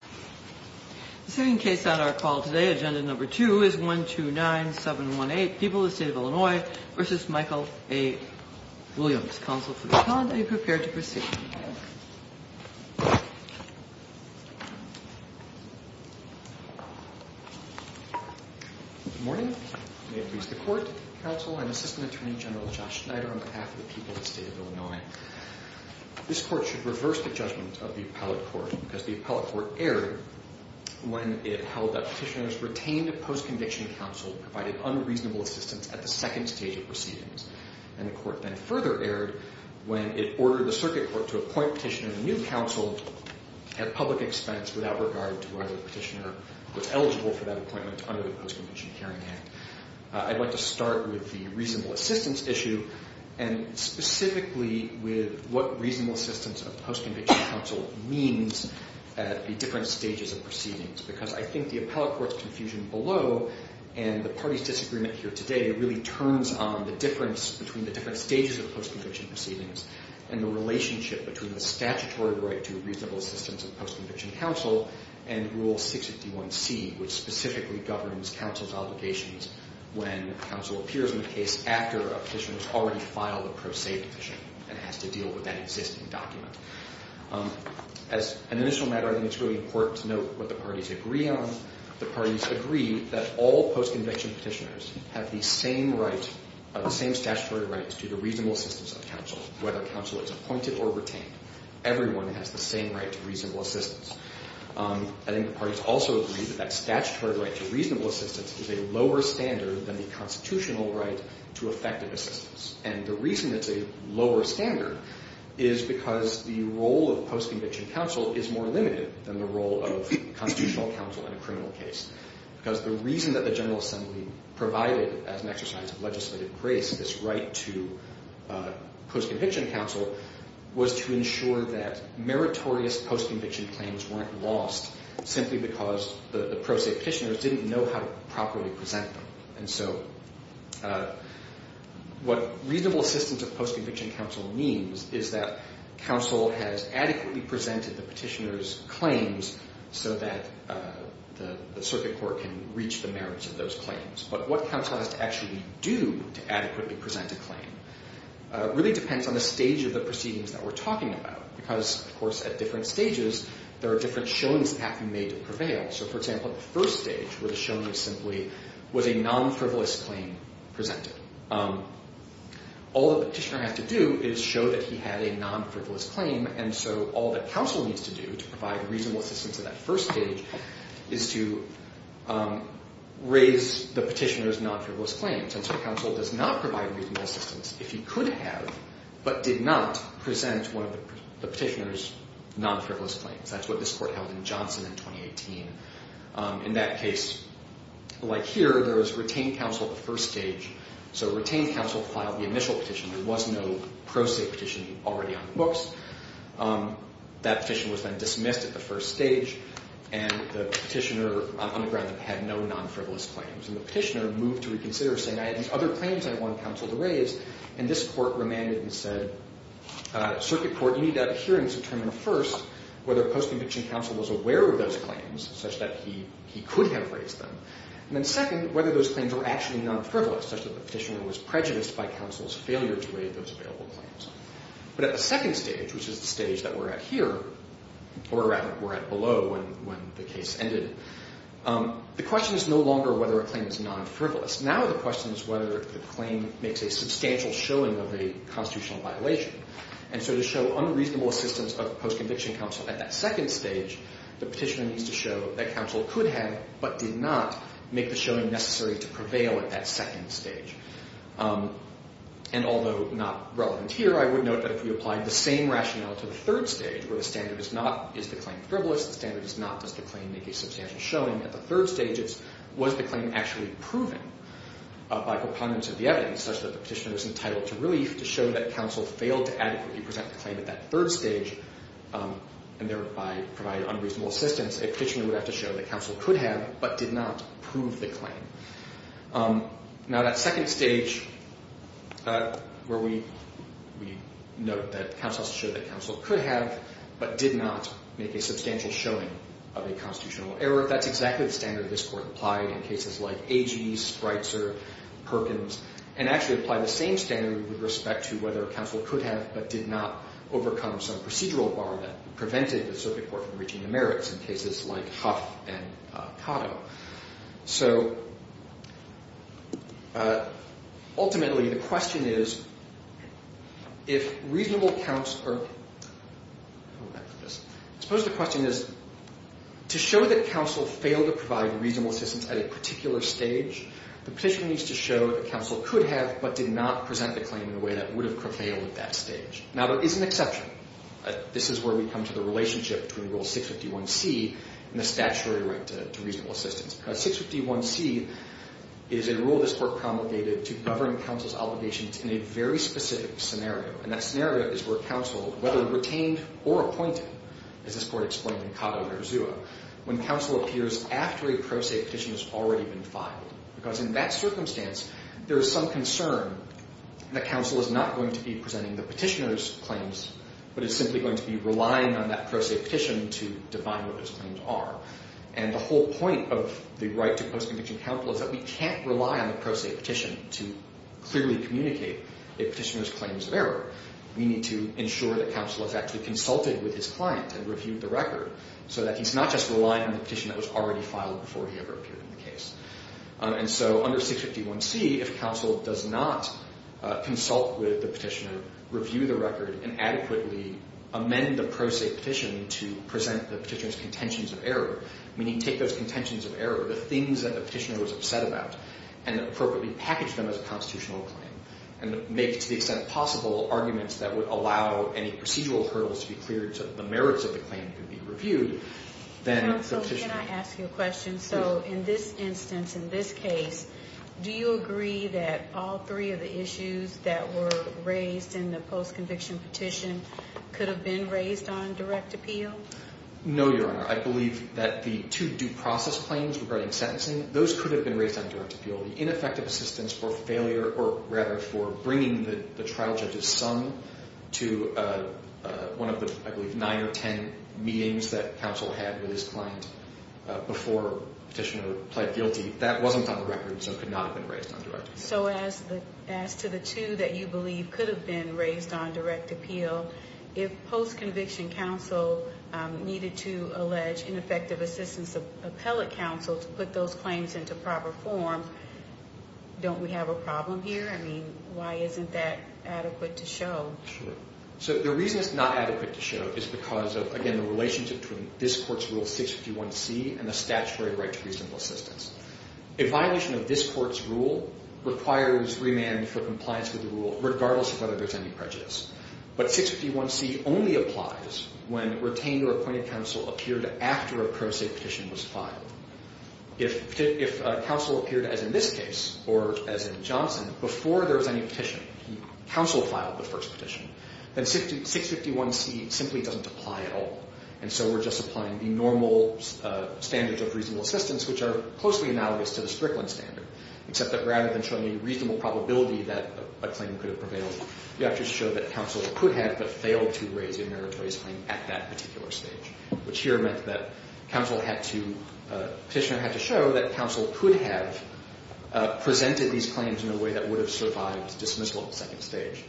The sitting case on our call today, Agenda No. 2, is 129718, People of the State of Illinois v. Michael A. Williams. Counsel for the client, are you prepared to proceed? Good morning. May it please the Court, Counsel and Assistant Attorney General Josh Schneider on behalf of the people of the State of Illinois. This Court should reverse the judgment of the Appellate Court because the Appellate Court erred when it held that petitioners retained a post-conviction counsel and provided unreasonable assistance at the second stage of proceedings. And the Court then further erred when it ordered the Circuit Court to appoint petitioners a new counsel at public expense without regard to whether the petitioner was eligible for that appointment under the Post-Conviction Hearing Act. I'd like to start with the reasonable assistance issue and specifically with what reasonable assistance of post-conviction counsel means at the different stages of proceedings. Because I think the Appellate Court's confusion below and the party's disagreement here today really turns on the difference between the different stages of post-conviction proceedings and the relationship between the statutory right to reasonable assistance of post-conviction counsel and Rule 651C, which specifically governs counsel's obligations when counsel appears in a case after a petitioner has already filed a pro se petition and has to deal with that existing document. As an initial matter, I think it's really important to note what the parties agree on. The parties agree that all post-conviction petitioners have the same statutory rights to the reasonable assistance of counsel, whether counsel is appointed or retained. Everyone has the same right to reasonable assistance. I think the parties also agree that that statutory right to reasonable assistance is a lower standard than the constitutional right to effective assistance. And the reason it's a lower standard is because the role of post-conviction counsel is more limited than the role of constitutional counsel in a criminal case. Because the reason that the General Assembly provided as an exercise of legislative grace this right to post-conviction counsel was to ensure that meritorious post-conviction claims weren't lost simply because the pro se petitioners didn't know how to properly present them. And so what reasonable assistance of post-conviction counsel means is that counsel has adequately presented the petitioner's claims so that the circuit court can reach the merits of those claims. But what counsel has to actually do to adequately present a claim really depends on the stage of the proceedings that we're talking about. Because, of course, at different stages, there are different showings that have to be made to prevail. So, for example, at the first stage where the showman simply was a non-frivolous claim presented, all the petitioner has to do is show that he had a non-frivolous claim. And so all that counsel needs to do to provide reasonable assistance at that first stage is to raise the petitioner's non-frivolous claims. And so counsel does not provide reasonable assistance if he could have but did not present one of the petitioner's non-frivolous claims. That's what this court held in Johnson in 2018. In that case, like here, there was retained counsel at the first stage. So retained counsel filed the initial petition. There was no pro se petition already on the books. That petition was then dismissed at the first stage. And the petitioner on the ground had no non-frivolous claims. And the petitioner moved to reconsider, saying, I have these other claims I want counsel to raise. And this court remanded and said, circuit court, you need to have a hearing to determine first whether post-conviction counsel was aware of those claims such that he could have raised them. And then second, whether those claims were actually non-frivolous such that the petitioner was prejudiced by counsel's failure to raise those available claims. But at the second stage, which is the stage that we're at here, or rather we're at below when the case ended, the question is no longer whether a claim is non-frivolous. Now the question is whether the claim makes a substantial showing of a constitutional violation. And so to show unreasonable assistance of post-conviction counsel at that second stage, the petitioner needs to show that counsel could have but did not make the showing necessary to prevail at that second stage. And although not relevant here, I would note that if we applied the same rationale to the third stage, where the standard is not, is the claim frivolous? The standard is not, does the claim make a substantial showing? At the third stage, was the claim actually proven by proponents of the evidence such that the petitioner was entitled to relief to show that counsel failed to adequately present the claim at that third stage and thereby provide unreasonable assistance? A petitioner would have to show that counsel could have but did not prove the claim. Now that second stage, where we note that counsel has to show that counsel could have but did not make a substantial showing of a constitutional error, that's exactly the standard this Court applied in cases like Agee, Spreitzer, Perkins, and actually applied the same standard with respect to whether counsel could have but did not overcome some procedural bar that prevented the circuit court from reaching the merits in cases like Huff and Cotto. So ultimately, the question is, if reasonable counsel or, hold on for this, I suppose the question is, to show that counsel failed to provide reasonable assistance at a particular stage, the petitioner needs to show that counsel could have but did not present the claim in a way that would have prevailed at that stage. Now, there is an exception. This is where we come to the relationship between Rule 651C and the statutory right to reasonable assistance. Now, 651C is a rule this Court promulgated to govern counsel's obligations in a very specific scenario, and that scenario is where counsel, whether retained or appointed, as this Court explained in Cotto v. Urzua, when counsel appears after a pro se petition has already been filed. Because in that circumstance, there is some concern that counsel is not going to be presenting the petitioner's claims but is simply going to be relying on that pro se petition to define what those claims are. And the whole point of the right to post-conviction counsel is that we can't rely on the pro se petition to clearly communicate a petitioner's claims of error. We need to ensure that counsel has actually consulted with his client and reviewed the record so that he's not just relying on the petition that was already filed before he ever appeared in the case. And so under 651C, if counsel does not consult with the petitioner, review the record, and adequately amend the pro se petition to present the petitioner's contentions of error, meaning take those contentions of error, the things that the petitioner was upset about, and appropriately package them as a constitutional claim, and make, to the extent possible, arguments that would allow any procedural hurdles to be cleared so that the merits of the claim could be reviewed, then the petitioner... In this instance, in this case, do you agree that all three of the issues that were raised in the post-conviction petition could have been raised on direct appeal? No, Your Honor. I believe that the two due process claims regarding sentencing, those could have been raised on direct appeal. The ineffective assistance for failure, or rather for bringing the trial judge's sum to one of the, I believe, nine or ten meetings that counsel had with his client before petitioner pled guilty, that wasn't on the record, so it could not have been raised on direct appeal. So as to the two that you believe could have been raised on direct appeal, if post-conviction counsel needed to allege ineffective assistance of appellate counsel to put those claims into proper form, don't we have a problem here? I mean, why isn't that adequate to show? Sure. So the reason it's not adequate to show is because of, again, the relationship between this Court's Rule 651c and the statutory right to reasonable assistance. A violation of this Court's rule requires remand for compliance with the rule, regardless of whether there's any prejudice. But 651c only applies when retained or appointed counsel appeared after a pro se petition was filed. If counsel appeared, as in this case, or as in Johnson, before there was any petition, counsel filed the first petition, then 651c simply doesn't apply at all. And so we're just applying the normal standards of reasonable assistance, which are closely analogous to the Strickland standard, except that rather than showing a reasonable probability that a claim could have prevailed, you have to show that counsel could have but failed to raise a meritorious claim at that particular stage, which here meant that counsel had to show that counsel could have presented these claims in a way that would have survived dismissal at the second stage.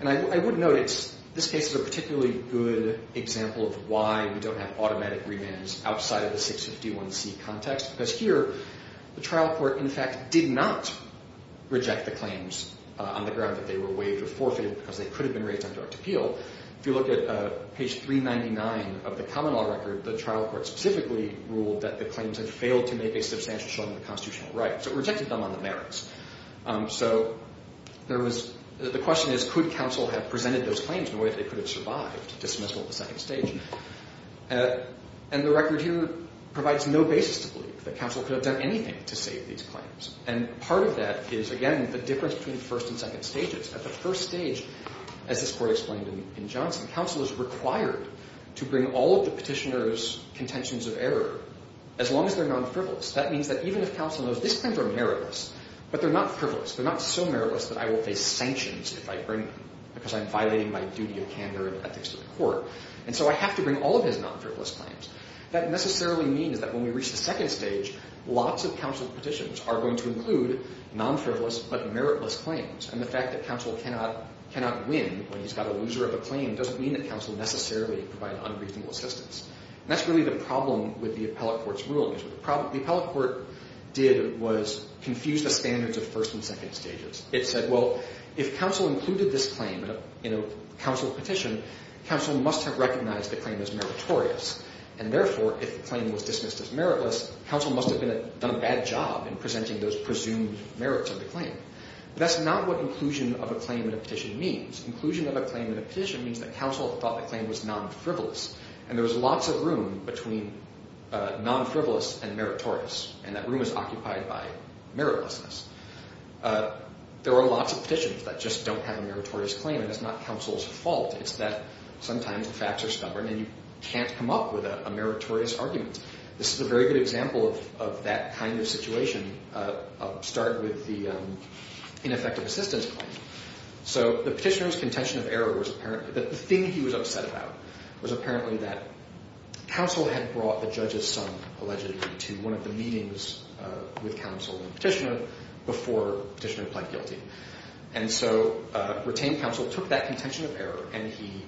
And I would note, this case is a particularly good example of why we don't have automatic remands outside of the 651c context. Because here, the trial court, in fact, did not reject the claims on the ground that they were waived or forfeited because they could have been raised on direct appeal. If you look at page 399 of the common law record, the trial court specifically ruled that the claims had failed to make a substantial show of the constitutional right. So it rejected them on the merits. So there was the question is, could counsel have presented those claims in a way that they could have survived dismissal at the second stage? And the record here provides no basis to believe that counsel could have done anything to save these claims. And part of that is, again, the difference between the first and second stages. At the first stage, as this Court explained in Johnson, counsel is required to bring all of the petitioner's contentions of error as long as they're non-frivolous. That means that even if counsel knows these claims are meritless, but they're not frivolous, they're not so meritless that I will face sanctions if I bring them because I'm violating my duty of candor and ethics to the court. And so I have to bring all of his non-frivolous claims. That necessarily means that when we reach the second stage, lots of counsel's petitions are going to include non-frivolous but meritless claims. And the fact that counsel cannot win when he's got a loser of a claim doesn't mean that counsel necessarily provide unreasonable assistance. And that's really the problem with the appellate court's ruling. The appellate court did was confuse the standards of first and second stages. It said, well, if counsel included this claim in a counsel petition, counsel must have recognized the claim as meritorious. And therefore, if the claim was dismissed as meritless, counsel must have done a bad job in presenting those presumed merits of the claim. But that's not what inclusion of a claim in a petition means. Inclusion of a claim in a petition means that counsel thought the claim was non-frivolous. And there was lots of room between non-frivolous and meritorious. And that room is occupied by meritlessness. There are lots of petitions that just don't have a meritorious claim. And it's not counsel's fault. It's that sometimes the facts are stubborn and you can't come up with a meritorious argument. This is a very good example of that kind of situation. I'll start with the ineffective assistance claim. So the petitioner's contention of error was apparent. The thing he was upset about was apparently that counsel had brought the judge's son, allegedly, to one of the meetings with counsel and petitioner before petitioner pled guilty. And so retained counsel took that contention of error and he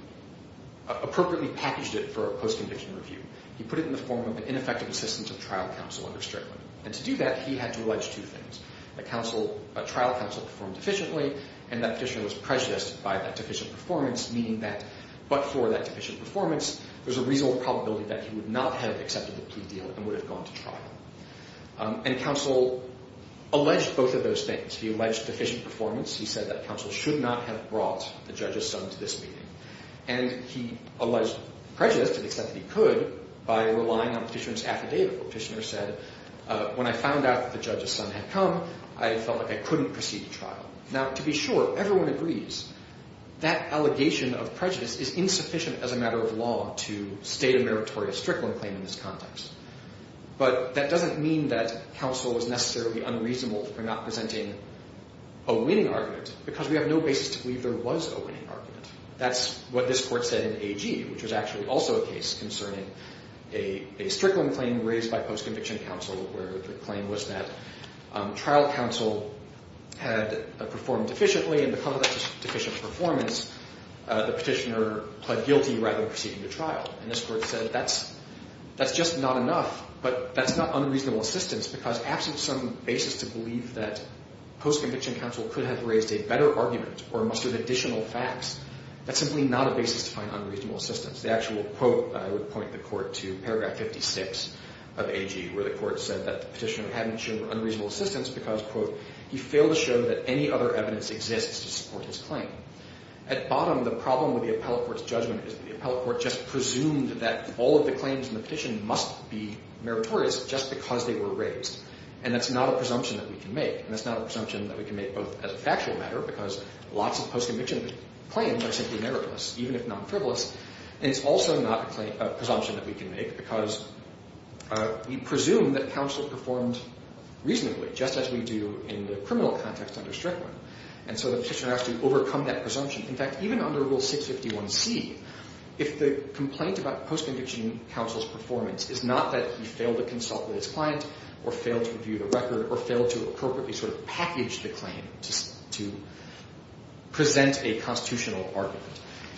appropriately packaged it for a post-conviction review. He put it in the form of an ineffective assistance of trial counsel under Strickland. And to do that, he had to allege two things. That trial counsel performed deficiently and that petitioner was prejudiced by that deficient performance, meaning that but for that deficient performance, there's a reasonable probability that he would not have accepted the plea deal and would have gone to trial. And counsel alleged both of those things. He alleged deficient performance. He said that counsel should not have brought the judge's son to this meeting. And he alleged prejudice to the extent that he could by relying on petitioner's affidavit. Petitioner said, when I found out that the judge's son had come, I felt like I couldn't proceed to trial. Now, to be sure, everyone agrees that allegation of prejudice is insufficient as a matter of law to state a meritorious Strickland claim in this context. But that doesn't mean that counsel is necessarily unreasonable for not presenting a winning argument because we have no basis to believe there was a winning argument. That's what this court said in AG, which was actually also a case concerning a Strickland claim raised by post-conviction counsel where the claim was that trial counsel had performed deficiently and because of that deficient performance, the petitioner pled guilty rather than proceeding to trial. And this court said that's just not enough, but that's not unreasonable assistance because absent some basis to believe that post-conviction counsel could have raised a better argument or mustered additional facts, that's simply not a basis to find unreasonable assistance. The actual quote I would point the court to, paragraph 56 of AG, where the court said that the petitioner hadn't shown unreasonable assistance because, quote, he failed to show that any other evidence exists to support his claim. At bottom, the problem with the appellate court's judgment is that the appellate court just presumed that all of the claims in the petition must be meritorious just because they were raised. And that's not a presumption that we can make, and that's not a presumption that we can make both as a factual matter because lots of post-conviction claims are simply meritorious, even if non-frivolous. And it's also not a presumption that we can make because we presume that counsel performed reasonably, just as we do in the criminal context under Strickland. And so the petitioner has to overcome that presumption. In fact, even under Rule 651C, if the complaint about post-conviction counsel's performance is not that he failed to consult with his client or failed to review the record or failed to appropriately sort of package the claim to present a constitutional argument,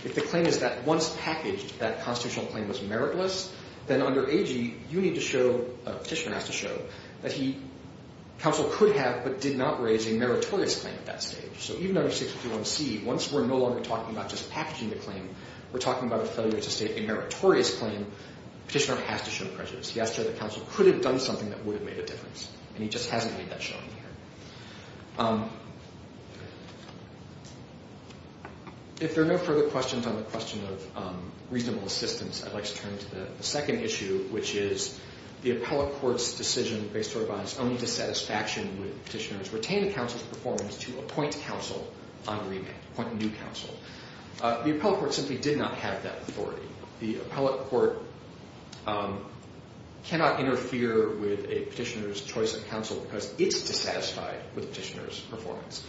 if the claim is that once packaged, that constitutional claim was meritless, then under AG, you need to show, a petitioner has to show, that he, counsel could have but did not raise a meritorious claim at that stage. So even under 651C, once we're no longer talking about just packaging the claim, we're talking about a failure to state a meritorious claim, petitioner has to show prejudice. He has to show that counsel could have done something that would have made a difference, and he just hasn't made that showing here. If there are no further questions on the question of reasonable assistance, I'd like to turn to the second issue, which is, the appellate court's decision based on its own dissatisfaction with the petitioner's retained counsel's performance to appoint counsel on remand, appoint a new counsel. The appellate court simply did not have that authority. The appellate court cannot interfere with a petitioner's choice of counsel because it's dissatisfied with the petitioner's performance.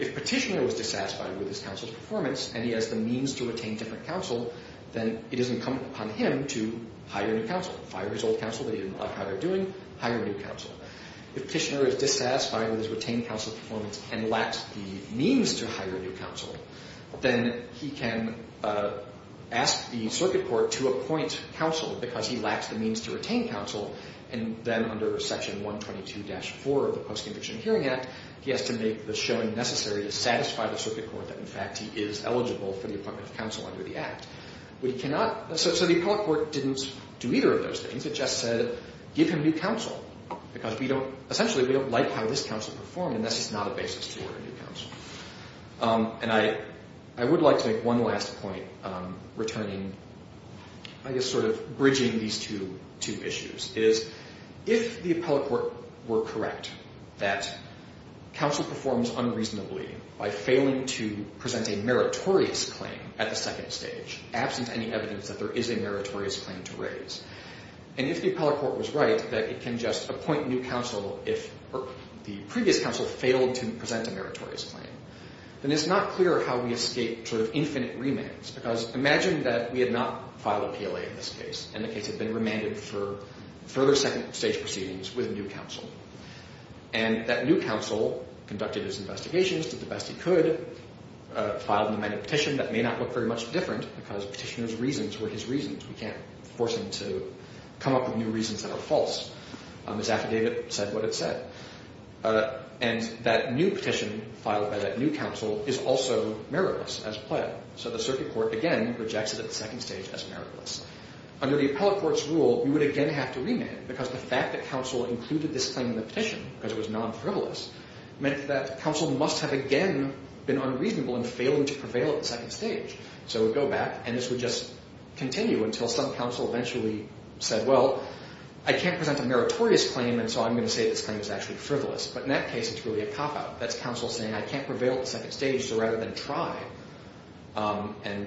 If petitioner was dissatisfied with his counsel's performance, and he has the means to retain different counsel, then it doesn't come upon him to hire a new counsel. Fire his old counsel that he didn't like how they're doing, hire a new counsel. If petitioner is dissatisfied with his retained counsel's performance and lacks the means to hire a new counsel, then he can ask the circuit court to appoint counsel because he lacks the means to retain counsel. And then under section 122-4 of the Post-Conviction Hearing Act, he has to make the showing necessary to satisfy the circuit court that, in fact, he is eligible for the appointment of counsel under the act. So the appellate court didn't do either of those things. It just said, give him new counsel because, essentially, we don't like how this counsel performed, and that's just not a basis to order a new counsel. And I would like to make one last point returning, I guess, sort of bridging these two issues. It is if the appellate court were correct that counsel performs unreasonably by failing to present a meritorious claim at the second stage, absent any evidence that there is a meritorious claim to raise, and if the appellate court was right that it can just appoint new counsel if the previous counsel failed to present a meritorious claim, then it's not clear how we escape sort of infinite remands. Because imagine that we had not filed a PLA in this case, and the case had been remanded for further second-stage proceedings with a new counsel. And that new counsel conducted his investigations, did the best he could, filed an amended petition. That may not look very much different because petitioner's reasons were his reasons. We can't force him to come up with new reasons that are false. His affidavit said what it said. And that new petition filed by that new counsel is also meritless as PLA. So the circuit court, again, rejects it at the second stage as meritless. Under the appellate court's rule, you would again have to remand because the fact that counsel included this claim in the petition because it was non-frivolous meant that counsel must have again been unreasonable in failing to prevail at the second stage. So it would go back, and this would just continue until some counsel eventually said, well, I can't present a meritorious claim, and so I'm going to say this claim is actually frivolous. But in that case, it's really a cop-out. That's counsel saying I can't prevail at the second stage, so rather than try and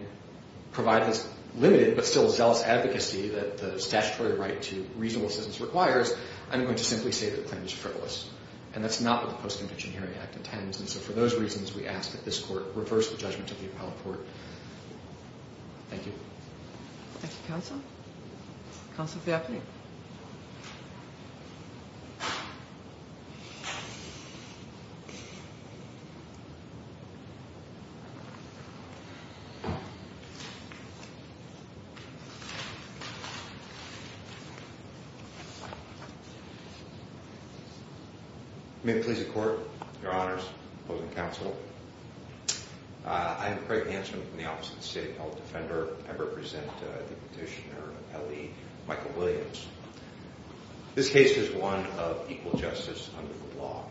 provide this limited but still zealous advocacy that the statutory right to reasonable assistance requires, I'm going to simply say that the claim is frivolous. And that's not what the Post-Convention Hearing Act intends. And so for those reasons, we ask that this court reverse the judgment of the appellate court. Thank you. Thank you, counsel. Counsel Faircloth. May it please the court, your honors, opposing counsel. I am Craig Hansen from the Office of the State Appellate Defender. I represent Petitioner L.E. Michael Williams. This case is one of equal justice under the law.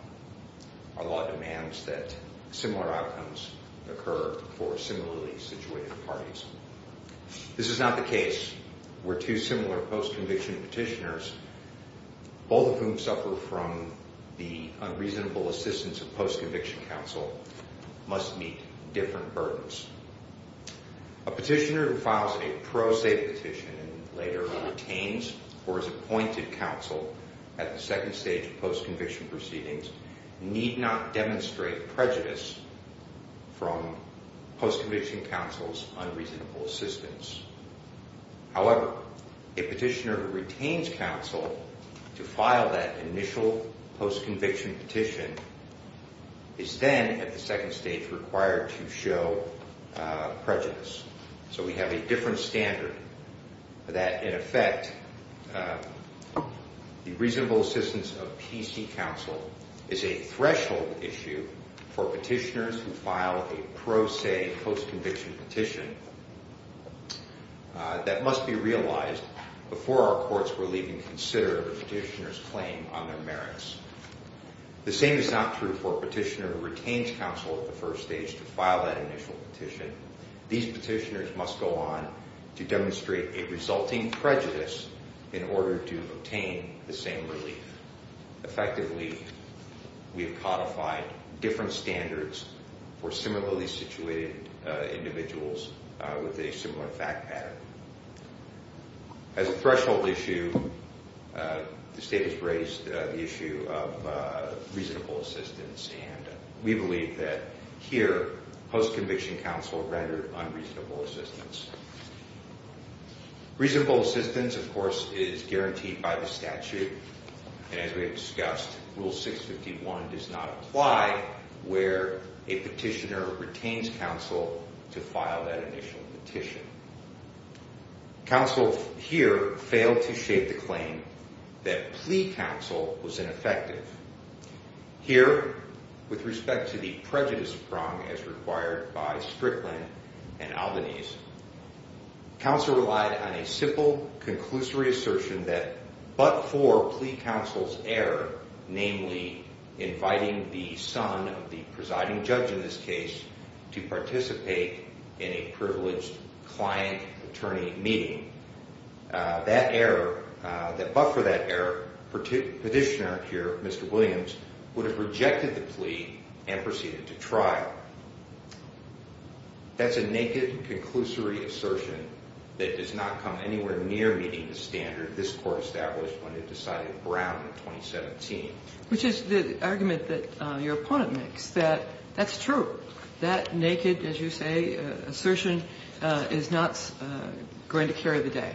Our law demands that similar outcomes occur for similarly situated parties. This is not the case where two similar post-conviction petitioners, both of whom suffer from the unreasonable assistance of post-conviction counsel, must meet different burdens. A petitioner who files a pro se petition and later retains or is appointed counsel at the second stage post-conviction proceedings need not demonstrate prejudice from post-conviction counsel's unreasonable assistance. However, a petitioner who retains counsel to file that initial post-conviction petition is then at the second stage required to show prejudice. So we have a different standard that, in effect, the reasonable assistance of PC counsel is a threshold issue for petitioners who file a pro se post-conviction petition. That must be realized before our courts will even consider the petitioner's claim on their merits. The same is not true for a petitioner who retains counsel at the first stage to file that initial petition. These petitioners must go on to demonstrate a resulting prejudice in order to obtain the same relief. Effectively, we have codified different standards for similarly situated individuals with a similar fact pattern. As a threshold issue, the state has raised the issue of reasonable assistance, and we believe that here, post-conviction counsel rendered unreasonable assistance. Reasonable assistance, of course, is guaranteed by the statute, and as we have discussed, Rule 651 does not apply where a petitioner retains counsel to file that initial petition. Counsel here failed to shape the claim that plea counsel was ineffective. Here, with respect to the prejudice prong as required by Strickland and Albanese, Counsel relied on a simple conclusory assertion that but for plea counsel's error, namely inviting the son of the presiding judge in this case to participate in a privileged client-attorney meeting, that error, that but for that error, petitioner here, Mr. Williams, would have rejected the plea and proceeded to trial. That's a naked, conclusory assertion that does not come anywhere near meeting the standard this Court established when it decided Brown in 2017. Which is the argument that your opponent makes, that that's true. That naked, as you say, assertion is not going to carry the day.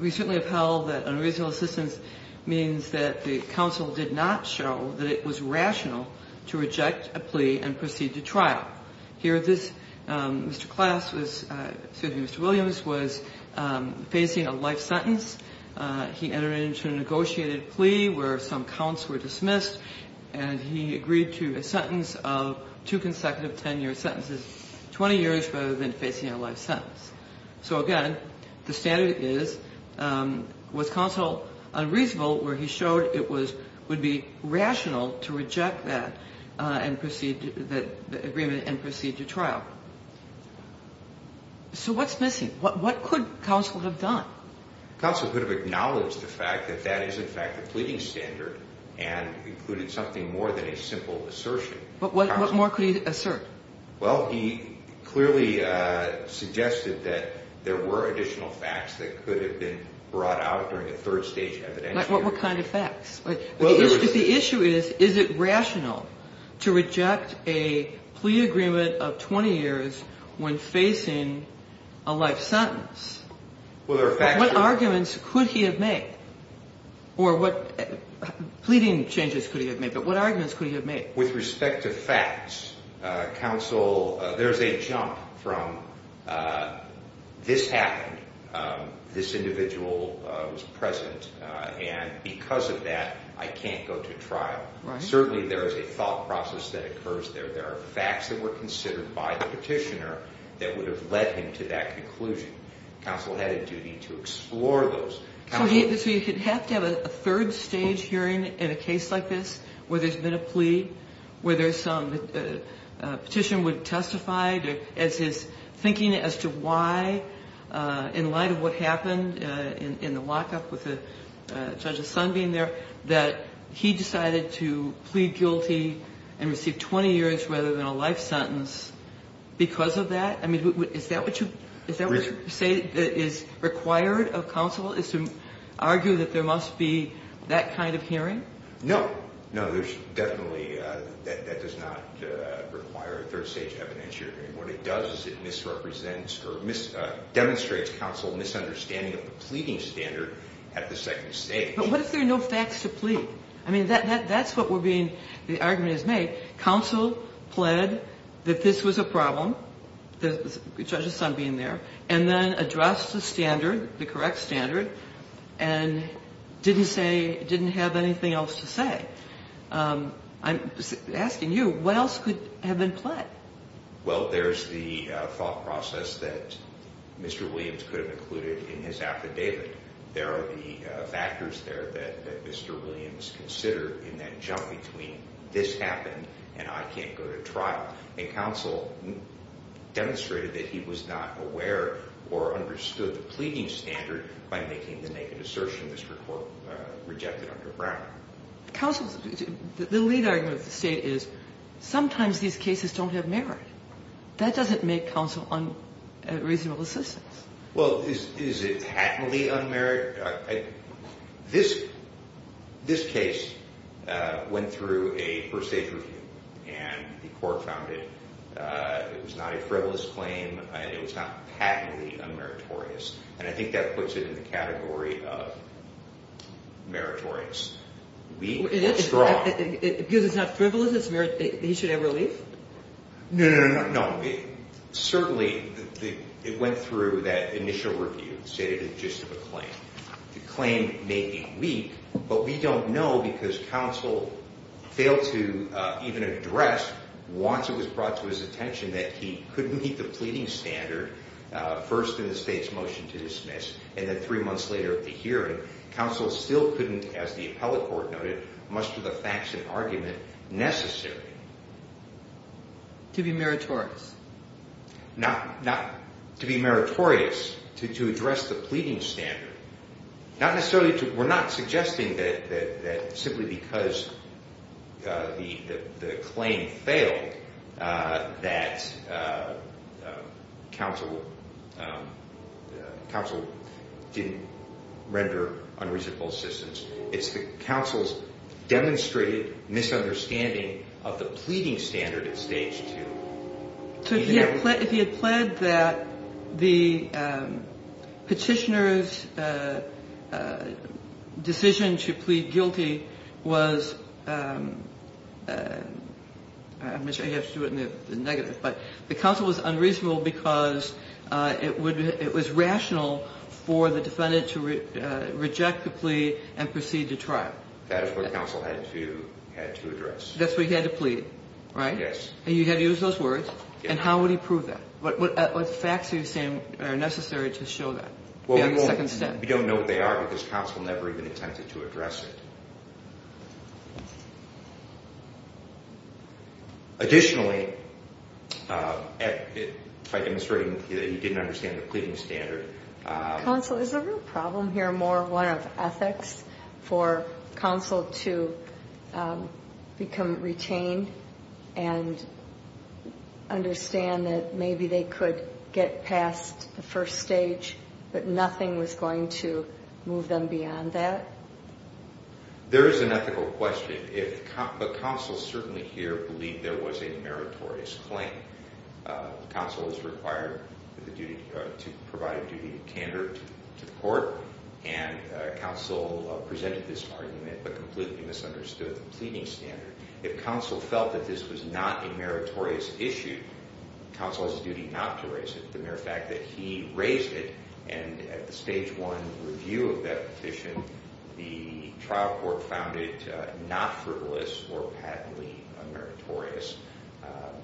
We certainly upheld that unreasonable assistance means that the counsel did not show that it was rational to reject a plea and proceed to trial. Here, this, Mr. Klass was, excuse me, Mr. Williams, was facing a life sentence. He entered into a negotiated plea where some counts were dismissed, and he agreed to a sentence of two consecutive 10-year sentences, 20 years rather than facing a life sentence. So, again, the standard is was counsel unreasonable where he showed it would be rational to reject that agreement and proceed to trial. So what's missing? What could counsel have done? Counsel could have acknowledged the fact that that is, in fact, a pleading standard and included something more than a simple assertion. But what more could he assert? Well, he clearly suggested that there were additional facts that could have been brought out during a third-stage evidence hearing. What kind of facts? The issue is, is it rational to reject a plea agreement of 20 years when facing a life sentence? What arguments could he have made? Or what pleading changes could he have made? But what arguments could he have made? With respect to facts, counsel, there's a jump from this happened, this individual was present, and because of that, I can't go to trial. Certainly there is a thought process that occurs there. There are facts that were considered by the petitioner that would have led him to that conclusion. Counsel had a duty to explore those. So you'd have to have a third-stage hearing in a case like this where there's been a plea, where there's some petition would testify as his thinking as to why, in light of what happened in the lockup with the judge's son being there, that he decided to plead guilty and receive 20 years rather than a life sentence because of that? I mean, is that what you say is required of counsel, is to argue that there must be that kind of hearing? No. No, there's definitely, that does not require a third-stage evidence hearing. What it does is it misrepresents or demonstrates counsel's misunderstanding of the pleading standard at the second stage. But what if there are no facts to plead? I mean, that's what we're being, the argument is made. Counsel pled that this was a problem, the judge's son being there, and then addressed the standard, the correct standard, and didn't say, didn't have anything else to say. I'm asking you, what else could have been pled? Well, there's the thought process that Mr. Williams could have included in his affidavit. There are the factors there that Mr. Williams considered in that jump between this happened and I can't go to trial. And counsel demonstrated that he was not aware or understood the pleading standard by making the naked assertion this report rejected under Brown. Counsel, the lead argument of the state is sometimes these cases don't have merit. That doesn't make counsel unreasonable assistance. Well, is it patently unmeritorious? This case went through a first-stage review, and the court found it was not a frivolous claim. It was not patently unmeritorious, and I think that puts it in the category of meritorious. Weak or strong? Because it's not frivolous, he should have relief? No, no, no, no. Certainly, it went through that initial review, stated it just as a claim. The claim may be weak, but we don't know because counsel failed to even address, once it was brought to his attention, that he couldn't meet the pleading standard, first in the state's motion to dismiss, and then three months later at the hearing. Counsel still couldn't, as the appellate court noted, muster the facts and argument necessary. To be meritorious? To be meritorious, to address the pleading standard. We're not suggesting that simply because the claim failed that counsel didn't render unreasonable assistance. It's that counsel's demonstrated misunderstanding of the pleading standard at stage two. So if he had pled that the petitioner's decision to plead guilty was, I guess I have to do it in the negative, but the counsel was unreasonable because it was rational for the defendant to reject the plea and proceed to trial. That is what counsel had to address. That's what he had to plead, right? Yes. And you had to use those words? Yes. And how would he prove that? What facts are you saying are necessary to show that? We don't know what they are because counsel never even attempted to address it. Additionally, by demonstrating that he didn't understand the pleading standard. Counsel, is the real problem here more one of ethics for counsel to become retained and understand that maybe they could get past the first stage but nothing was going to move them beyond that? There is an ethical question, but counsel certainly here believed there was a meritorious claim. Counsel is required to provide a duty of candor to the court and counsel presented this argument but completely misunderstood the pleading standard. If counsel felt that this was not a meritorious issue, counsel has a duty not to raise it. The mere fact that he raised it and at the stage one review of that petition, the trial court found it not frivolous or patently meritorious,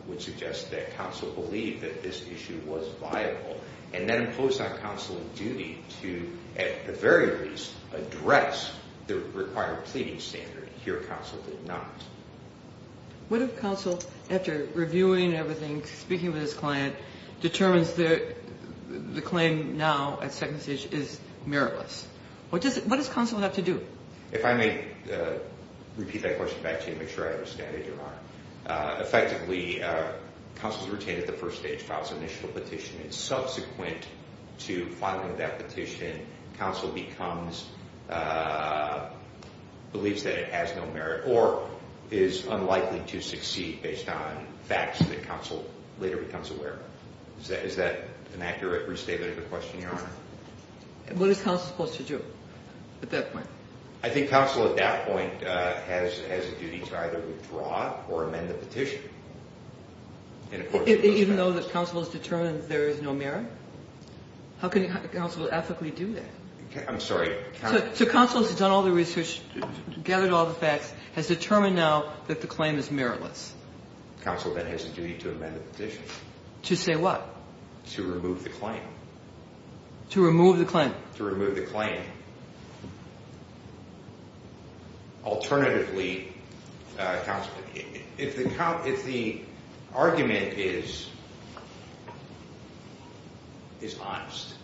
would suggest that counsel believed that this issue was viable and then imposed on counsel a duty to, at the very least, address the required pleading standard. Here, counsel did not. What if counsel, after reviewing everything, speaking with his client, determines that the claim now at second stage is meritless? What does counsel have to do? If I may repeat that question back to you to make sure I understand it, Your Honor. Effectively, counsel is retained at the first stage, files an initial petition. Subsequent to filing that petition, counsel believes that it has no merit or is unlikely to succeed based on facts that counsel later becomes aware of. Is that an accurate restatement of the question, Your Honor? What is counsel supposed to do at that point? I think counsel at that point has a duty to either withdraw or amend the petition. Even though counsel has determined there is no merit? How can counsel ethically do that? I'm sorry. Counsel has done all the research, gathered all the facts, has determined now that the claim is meritless. Counsel then has a duty to amend the petition. To say what? To remove the claim. To remove the claim. To remove the claim. Alternatively, if the argument is honest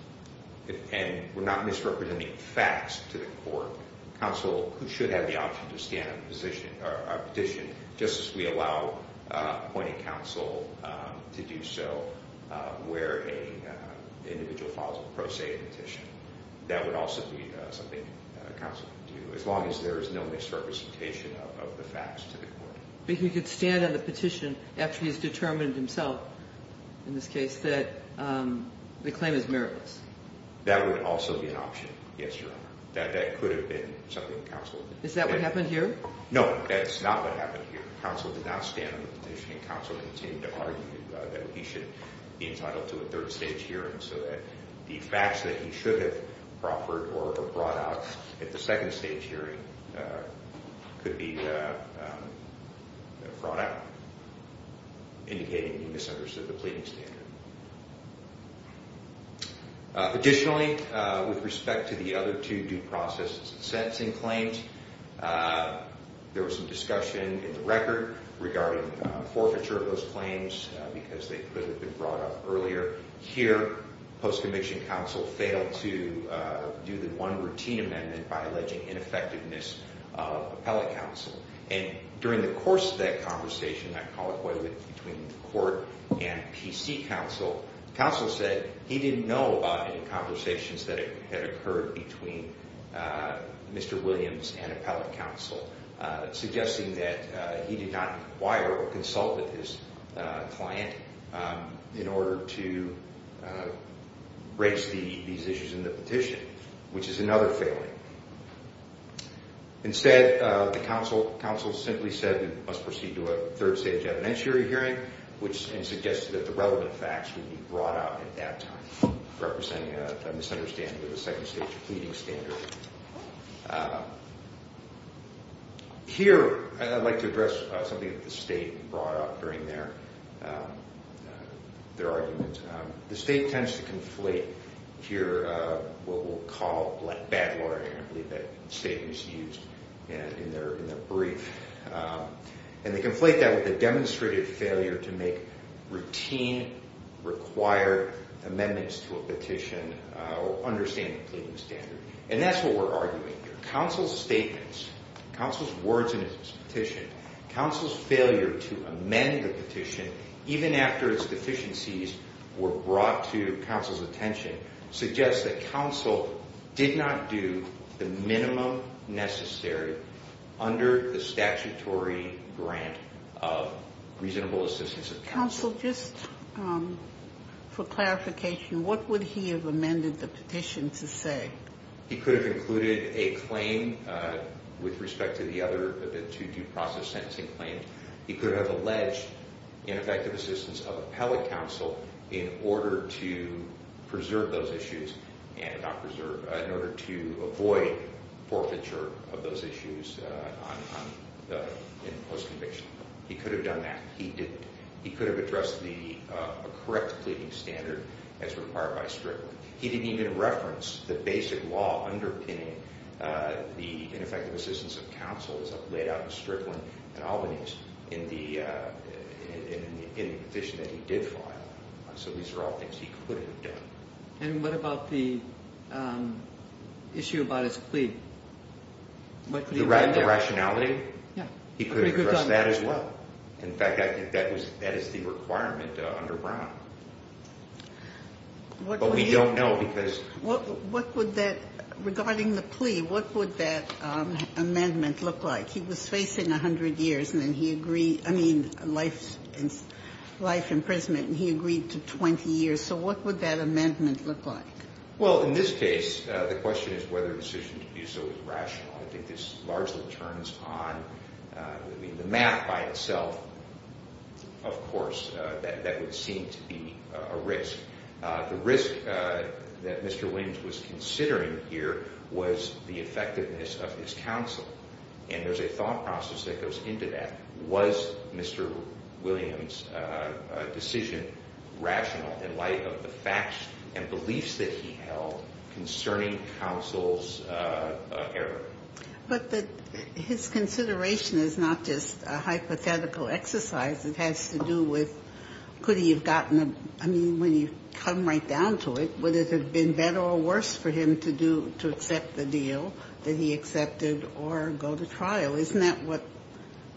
and we're not misrepresenting facts to the court, counsel should have the option to stand on the petition just as we allow appointing counsel to do so where an individual files a pro se petition. That would also be something counsel could do as long as there is no misrepresentation of the facts to the court. But he could stand on the petition after he's determined himself, in this case, that the claim is meritless. That would also be an option, yes, Your Honor. That could have been something counsel would do. Is that what happened here? No, that's not what happened here. Counsel did not stand on the petition, and counsel continued to argue that he should be entitled to a third stage hearing so that the facts that he should have offered or brought out at the second stage hearing could be brought out, indicating he misunderstood the pleading standard. Additionally, with respect to the other two due process sentencing claims, there was some discussion in the record regarding forfeiture of those claims because they could have been brought up earlier. Here, post-conviction counsel failed to do the one routine amendment by alleging ineffectiveness of appellate counsel. During the course of that conversation, that colloquy between the court and PC counsel, counsel said he didn't know about any conversations that had occurred between Mr. Williams and appellate counsel, suggesting that he did not inquire or consult with his client in order to raise these issues in the petition, which is another failure. Instead, the counsel simply said we must proceed to a third stage evidentiary hearing and suggested that the relevant facts would be brought out at that time, representing a misunderstanding of the second stage pleading standard. Here, I'd like to address something that the state brought up during their argument. The state tends to conflate here what we'll call bad lawyering. I believe that statement is used in their brief. And they conflate that with a demonstrated failure to make routine, required amendments to a petition or understand the pleading standard. And that's what we're arguing here. Counsel's statements, counsel's words in his petition, counsel's failure to amend the petition, even after its deficiencies were brought to counsel's attention, suggests that counsel did not do the minimum necessary under the statutory grant of reasonable assistance of counsel. Counsel, just for clarification, what would he have amended the petition to say? He could have included a claim with respect to the other two due process sentencing claims. He could have alleged ineffective assistance of appellate counsel in order to preserve those issues and not preserve, in order to avoid forfeiture of those issues in post-conviction. He could have done that. He could have addressed the correct pleading standard as required by Strickland. He didn't even reference the basic law underpinning the ineffective assistance of counsel as laid out in Strickland and Albany in the petition that he did file. So these are all things he could have done. And what about the issue about his plea? The rationality? Yeah. He could have addressed that as well. In fact, I think that is the requirement under Brown. But we don't know because ---- What would that, regarding the plea, what would that amendment look like? He was facing 100 years and then he agreed, I mean, life imprisonment, and he agreed to 20 years. So what would that amendment look like? Well, in this case, the question is whether the decision to do so is rational. I think this largely turns on the map by itself, of course, that would seem to be a risk. The risk that Mr. Williams was considering here was the effectiveness of his counsel. And there's a thought process that goes into that. Was Mr. Williams' decision rational in light of the facts and beliefs that he held concerning counsel's error? But his consideration is not just a hypothetical exercise. It has to do with could he have gotten a ---- I mean, when you come right down to it, would it have been better or worse for him to accept the deal that he accepted or go to trial? Isn't that what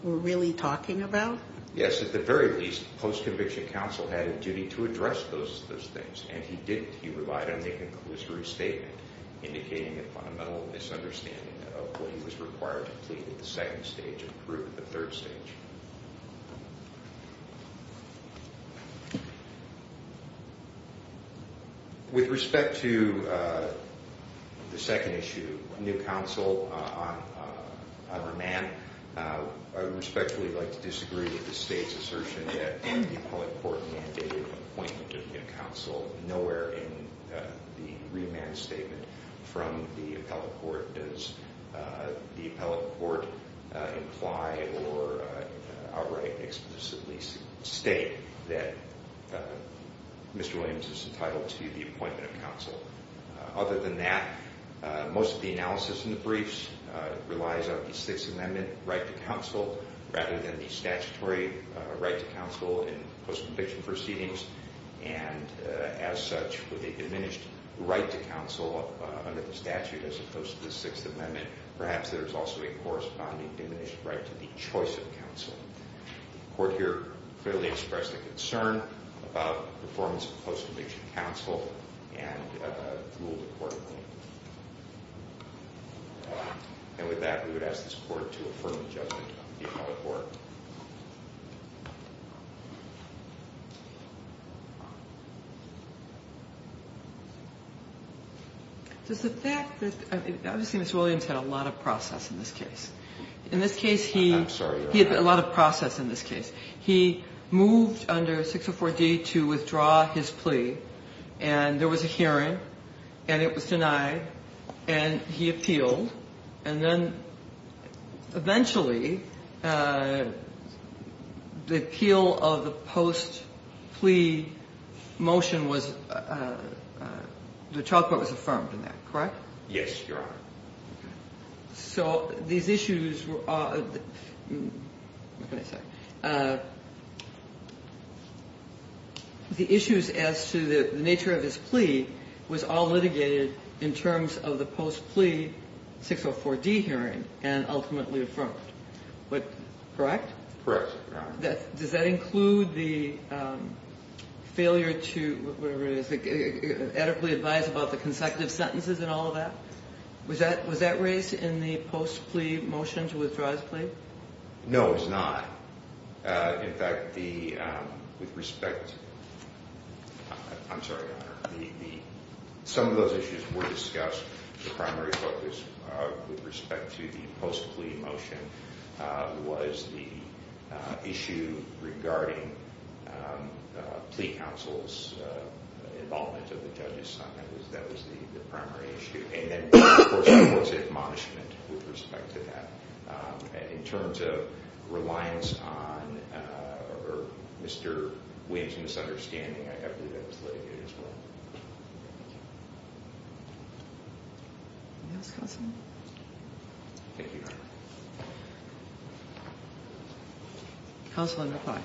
we're really talking about? Yes, at the very least, post-conviction counsel had a duty to address those things, and he didn't. He relied on the conclusory statement indicating a fundamental misunderstanding of what he was required to plead at the second stage and prove at the third stage. With respect to the second issue, new counsel on remand, I would respectfully like to disagree with the State's assertion that the appellate court mandated appointment of new counsel nowhere in the remand statement from the appellate court does the appellate court imply or outright explicitly state that Mr. Williams is entitled to the appointment of counsel. Other than that, most of the analysis in the briefs relies on the Sixth Amendment right to counsel rather than the statutory right to counsel in post-conviction proceedings, and as such, with a diminished right to counsel under the statute as opposed to the Sixth Amendment, perhaps there is also a corresponding diminished right to the choice of counsel. The Court here clearly expressed a concern about the performance of post-conviction counsel and ruled accordingly. And with that, we would ask this Court to affirm the judgment of the appellate court. Does the fact that, obviously, Mr. Williams had a lot of process in this case. In this case, he had a lot of process in this case. He moved under 604D to withdraw his plea, and there was a hearing, and it was denied, and he appealed, and then eventually, Mr. Williams, the appeal of the post-plea motion was, the child court was affirmed in that, correct? Yes, Your Honor. So these issues were, what can I say? The issues as to the nature of his plea was all litigated in terms of the post-plea 604D hearing and ultimately affirmed. Correct? Correct, Your Honor. Does that include the failure to, whatever it is, adequately advise about the consecutive sentences and all of that? Was that raised in the post-plea motion to withdraw his plea? No, it was not. In fact, the, with respect, I'm sorry, Your Honor, some of those issues were discussed, the primary focus with respect to the post-plea motion was the issue regarding plea counsel's involvement of the judge's son. That was the primary issue. And then, of course, there was admonishment with respect to that. In terms of reliance on Mr. Williams' misunderstanding, I believe that was litigated as well. Thank you. Anything else, Counselor? Thank you, Your Honor. Counselor, reply.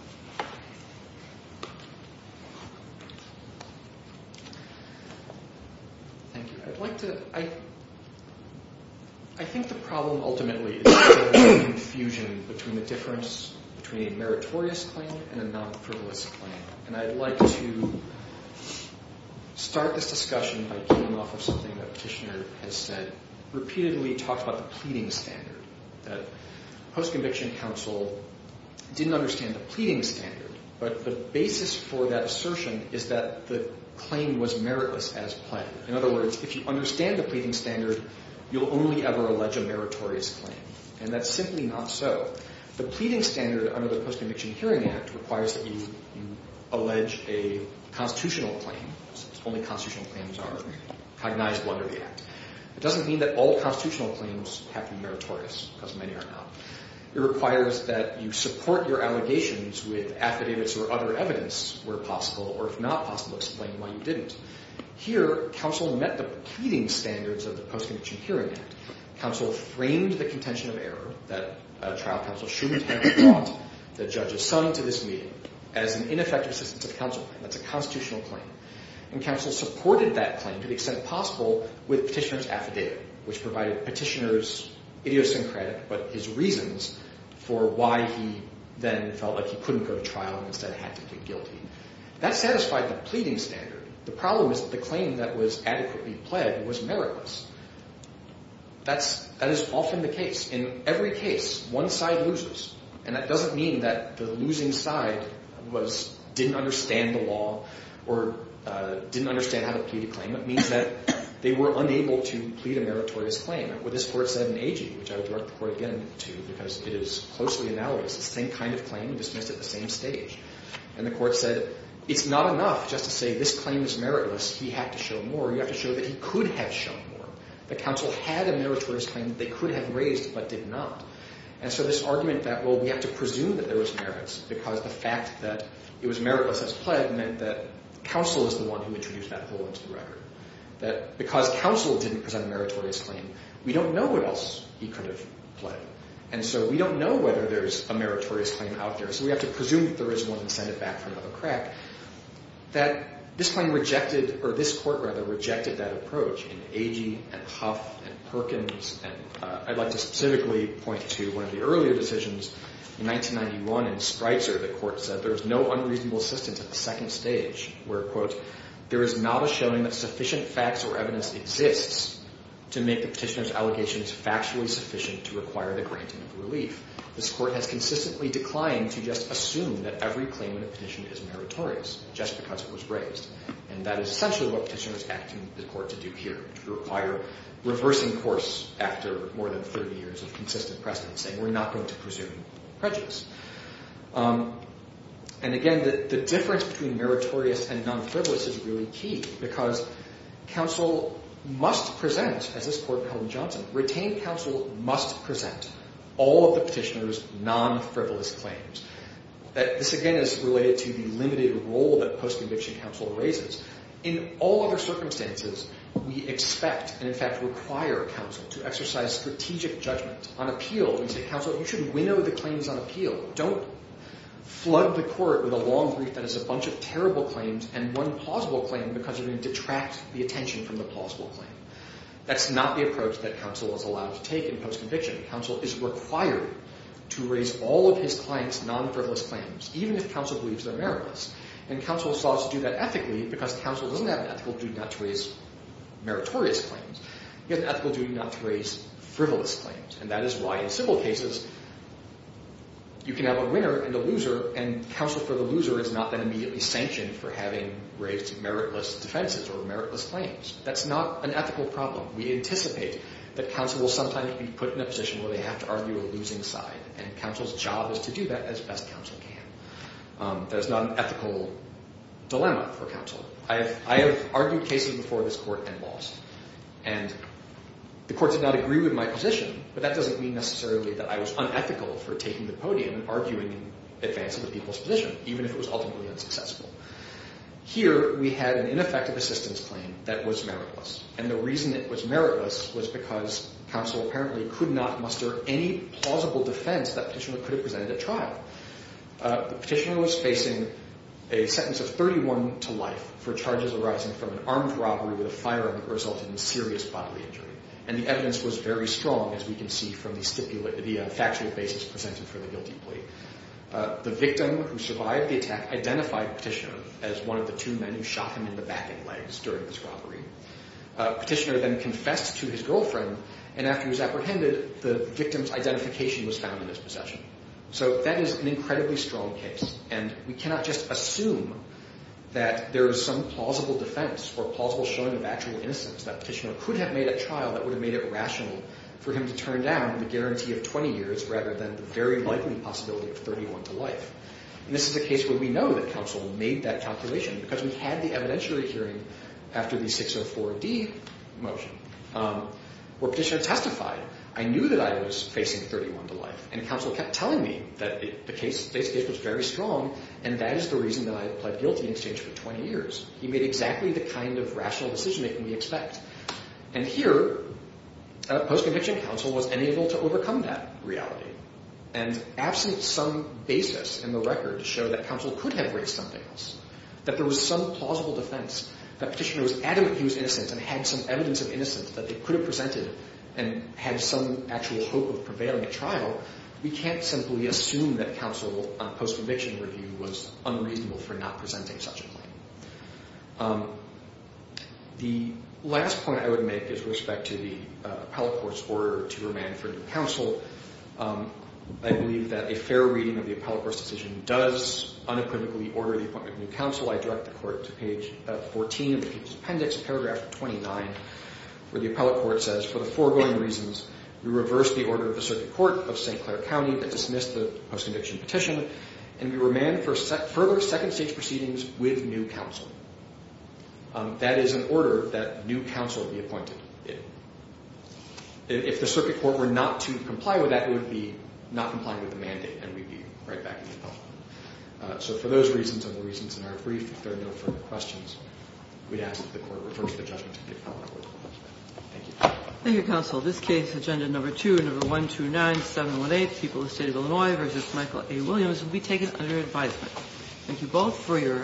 Thank you. I'd like to, I think the problem ultimately is confusion between the difference between a meritorious claim and a non-frivolous claim. And I'd like to start this discussion by coming off of something that Petitioner has said, repeatedly talked about the pleading standard, that post-conviction counsel didn't understand the pleading standard, but the basis for that assertion is that the claim was meritless as planned. In other words, if you understand the pleading standard, you'll only ever allege a meritorious claim. And that's simply not so. The pleading standard under the Post-Conviction Hearing Act requires that you allege a constitutional claim, since only constitutional claims are cognizable under the Act. It doesn't mean that all constitutional claims have to be meritorious, because many are not. It requires that you support your allegations with affidavits or other evidence where possible, or if not possible, explain why you didn't. Here, counsel met the pleading standards of the Post-Conviction Hearing Act. Counsel framed the contention of error that a trial counsel shouldn't have brought the judge assigned to this meeting as an ineffective assistance of counsel. That's a constitutional claim. And counsel supported that claim to the extent possible with Petitioner's affidavit, which provided Petitioner's idiosyncratic but his reasons for why he then felt like he couldn't go to trial and instead had to plead guilty. That satisfied the pleading standard. The problem is that the claim that was adequately pled was meritless. That is often the case. In every case, one side loses. And that doesn't mean that the losing side didn't understand the law or didn't understand how to plead a claim. It means that they were unable to plead a meritorious claim. What this Court said in Agee, which I would direct the Court again to because it is closely analysed, the same kind of claim dismissed at the same stage. And the Court said it's not enough just to say this claim is meritless. He had to show more. You have to show that he could have shown more. The counsel had a meritorious claim that they could have raised but did not. And so this argument that, well, we have to presume that there was merits because the fact that it was meritless as pled meant that counsel is the one who introduced that hole into the record, that because counsel didn't present a meritorious claim, we don't know what else he could have pled. And so we don't know whether there's a meritorious claim out there, so we have to presume that there is one and send it back for another crack, that this Court rejected that approach in Agee and Huff and Perkins. And I'd like to specifically point to one of the earlier decisions. In 1991 in Streitzer, the Court said there was no unreasonable assistance at the second stage where, quote, there is not a showing that sufficient facts or evidence exists to make the petitioner's allegations factually sufficient to require the granting of relief. This Court has consistently declined to just assume that every claim in a petition is meritorious just because it was raised. And that is essentially what petitioners ask the Court to do here, to require reversing course after more than 30 years of consistent precedence, saying we're not going to presume prejudice. And again, the difference between meritorious and non-frivolous is really key because counsel must present, as this Court held in Johnson, retained counsel must present all of the petitioner's non-frivolous claims. This, again, is related to the limited role that post-conviction counsel raises. In all other circumstances, we expect and, in fact, require counsel to exercise strategic judgment. On appeal, we say, counsel, you should winnow the claims on appeal. Don't flood the Court with a long brief that has a bunch of terrible claims and one plausible claim because you're going to detract the attention from the plausible claim. That's not the approach that counsel is allowed to take in post-conviction. Counsel is required to raise all of his client's non-frivolous claims, even if counsel believes they're meritless. And counsel is allowed to do that ethically because counsel doesn't have an ethical duty not to raise meritorious claims. He has an ethical duty not to raise frivolous claims. And that is why in civil cases, you can have a winner and a loser, and counsel for the loser is not then immediately sanctioned for having raised meritless defenses or meritless claims. That's not an ethical problem. We anticipate that counsel will sometimes be put in a position where they have to argue a losing side, and counsel's job is to do that as best counsel can. That is not an ethical dilemma for counsel. I have argued cases before this Court and lost, and the Court did not agree with my position, but that doesn't mean necessarily that I was unethical for taking the podium and arguing in advance of the people's position, even if it was ultimately unsuccessful. Here, we had an ineffective assistance claim that was meritless, and the reason it was meritless was because counsel apparently could not muster any plausible defense that petitioner could have presented at trial. The petitioner was facing a sentence of 31 to life for charges arising from an armed robbery with a firearm that resulted in serious bodily injury, and the evidence was very strong, as we can see from the factual basis presented for the guilty plea. The victim who survived the attack identified the petitioner as one of the two men who shot him in the back and legs during this robbery. Petitioner then confessed to his girlfriend, and after he was apprehended, the victim's identification was found in his possession. So that is an incredibly strong case, and we cannot just assume that there is some plausible defense or plausible showing of actual innocence that petitioner could have made at trial that would have made it rational for him to turn down the guarantee of 20 years rather than the very likely possibility of 31 to life. And this is a case where we know that counsel made that calculation because we had the evidentiary hearing after the 604D motion where petitioner testified. I knew that I was facing 31 to life, and counsel kept telling me that this case was very strong, and that is the reason that I pled guilty in exchange for 20 years. He made exactly the kind of rational decision-making we expect. And here, post-conviction, counsel was unable to overcome that reality, and absent some basis in the record to show that counsel could have raised something else, that there was some plausible defense, that petitioner was adamant he was innocent and had some evidence of innocence that they could have presented and had some actual hope of prevailing at trial, we can't simply assume that counsel, on post-conviction review, was unreasonable for not presenting such a claim. The last point I would make is with respect to the appellate court's order to remand for new counsel. I believe that a fair reading of the appellate court's decision does unequivocally order the appointment of new counsel. I direct the Court to page 14 of the Chief's Appendix, paragraph 29, where the appellate court says, For the foregoing reasons, we reverse the order of the Circuit Court of St. Clair County that dismissed the post-conviction petition, and we remand for further second-stage proceedings with new counsel. That is an order that new counsel be appointed. If the Circuit Court were not to comply with that, it would be not complying with the mandate, and we'd be right back in the envelope. So for those reasons and the reasons in our brief, if there are no further questions, we'd ask that the Court reverse the judgment to the appellate court. Thank you. Thank you, counsel. This case, Agenda Number 2, Number 129718, People of the State of Illinois v. Michael A. Williams, will be taken under advisement. Thank you both for your arguments.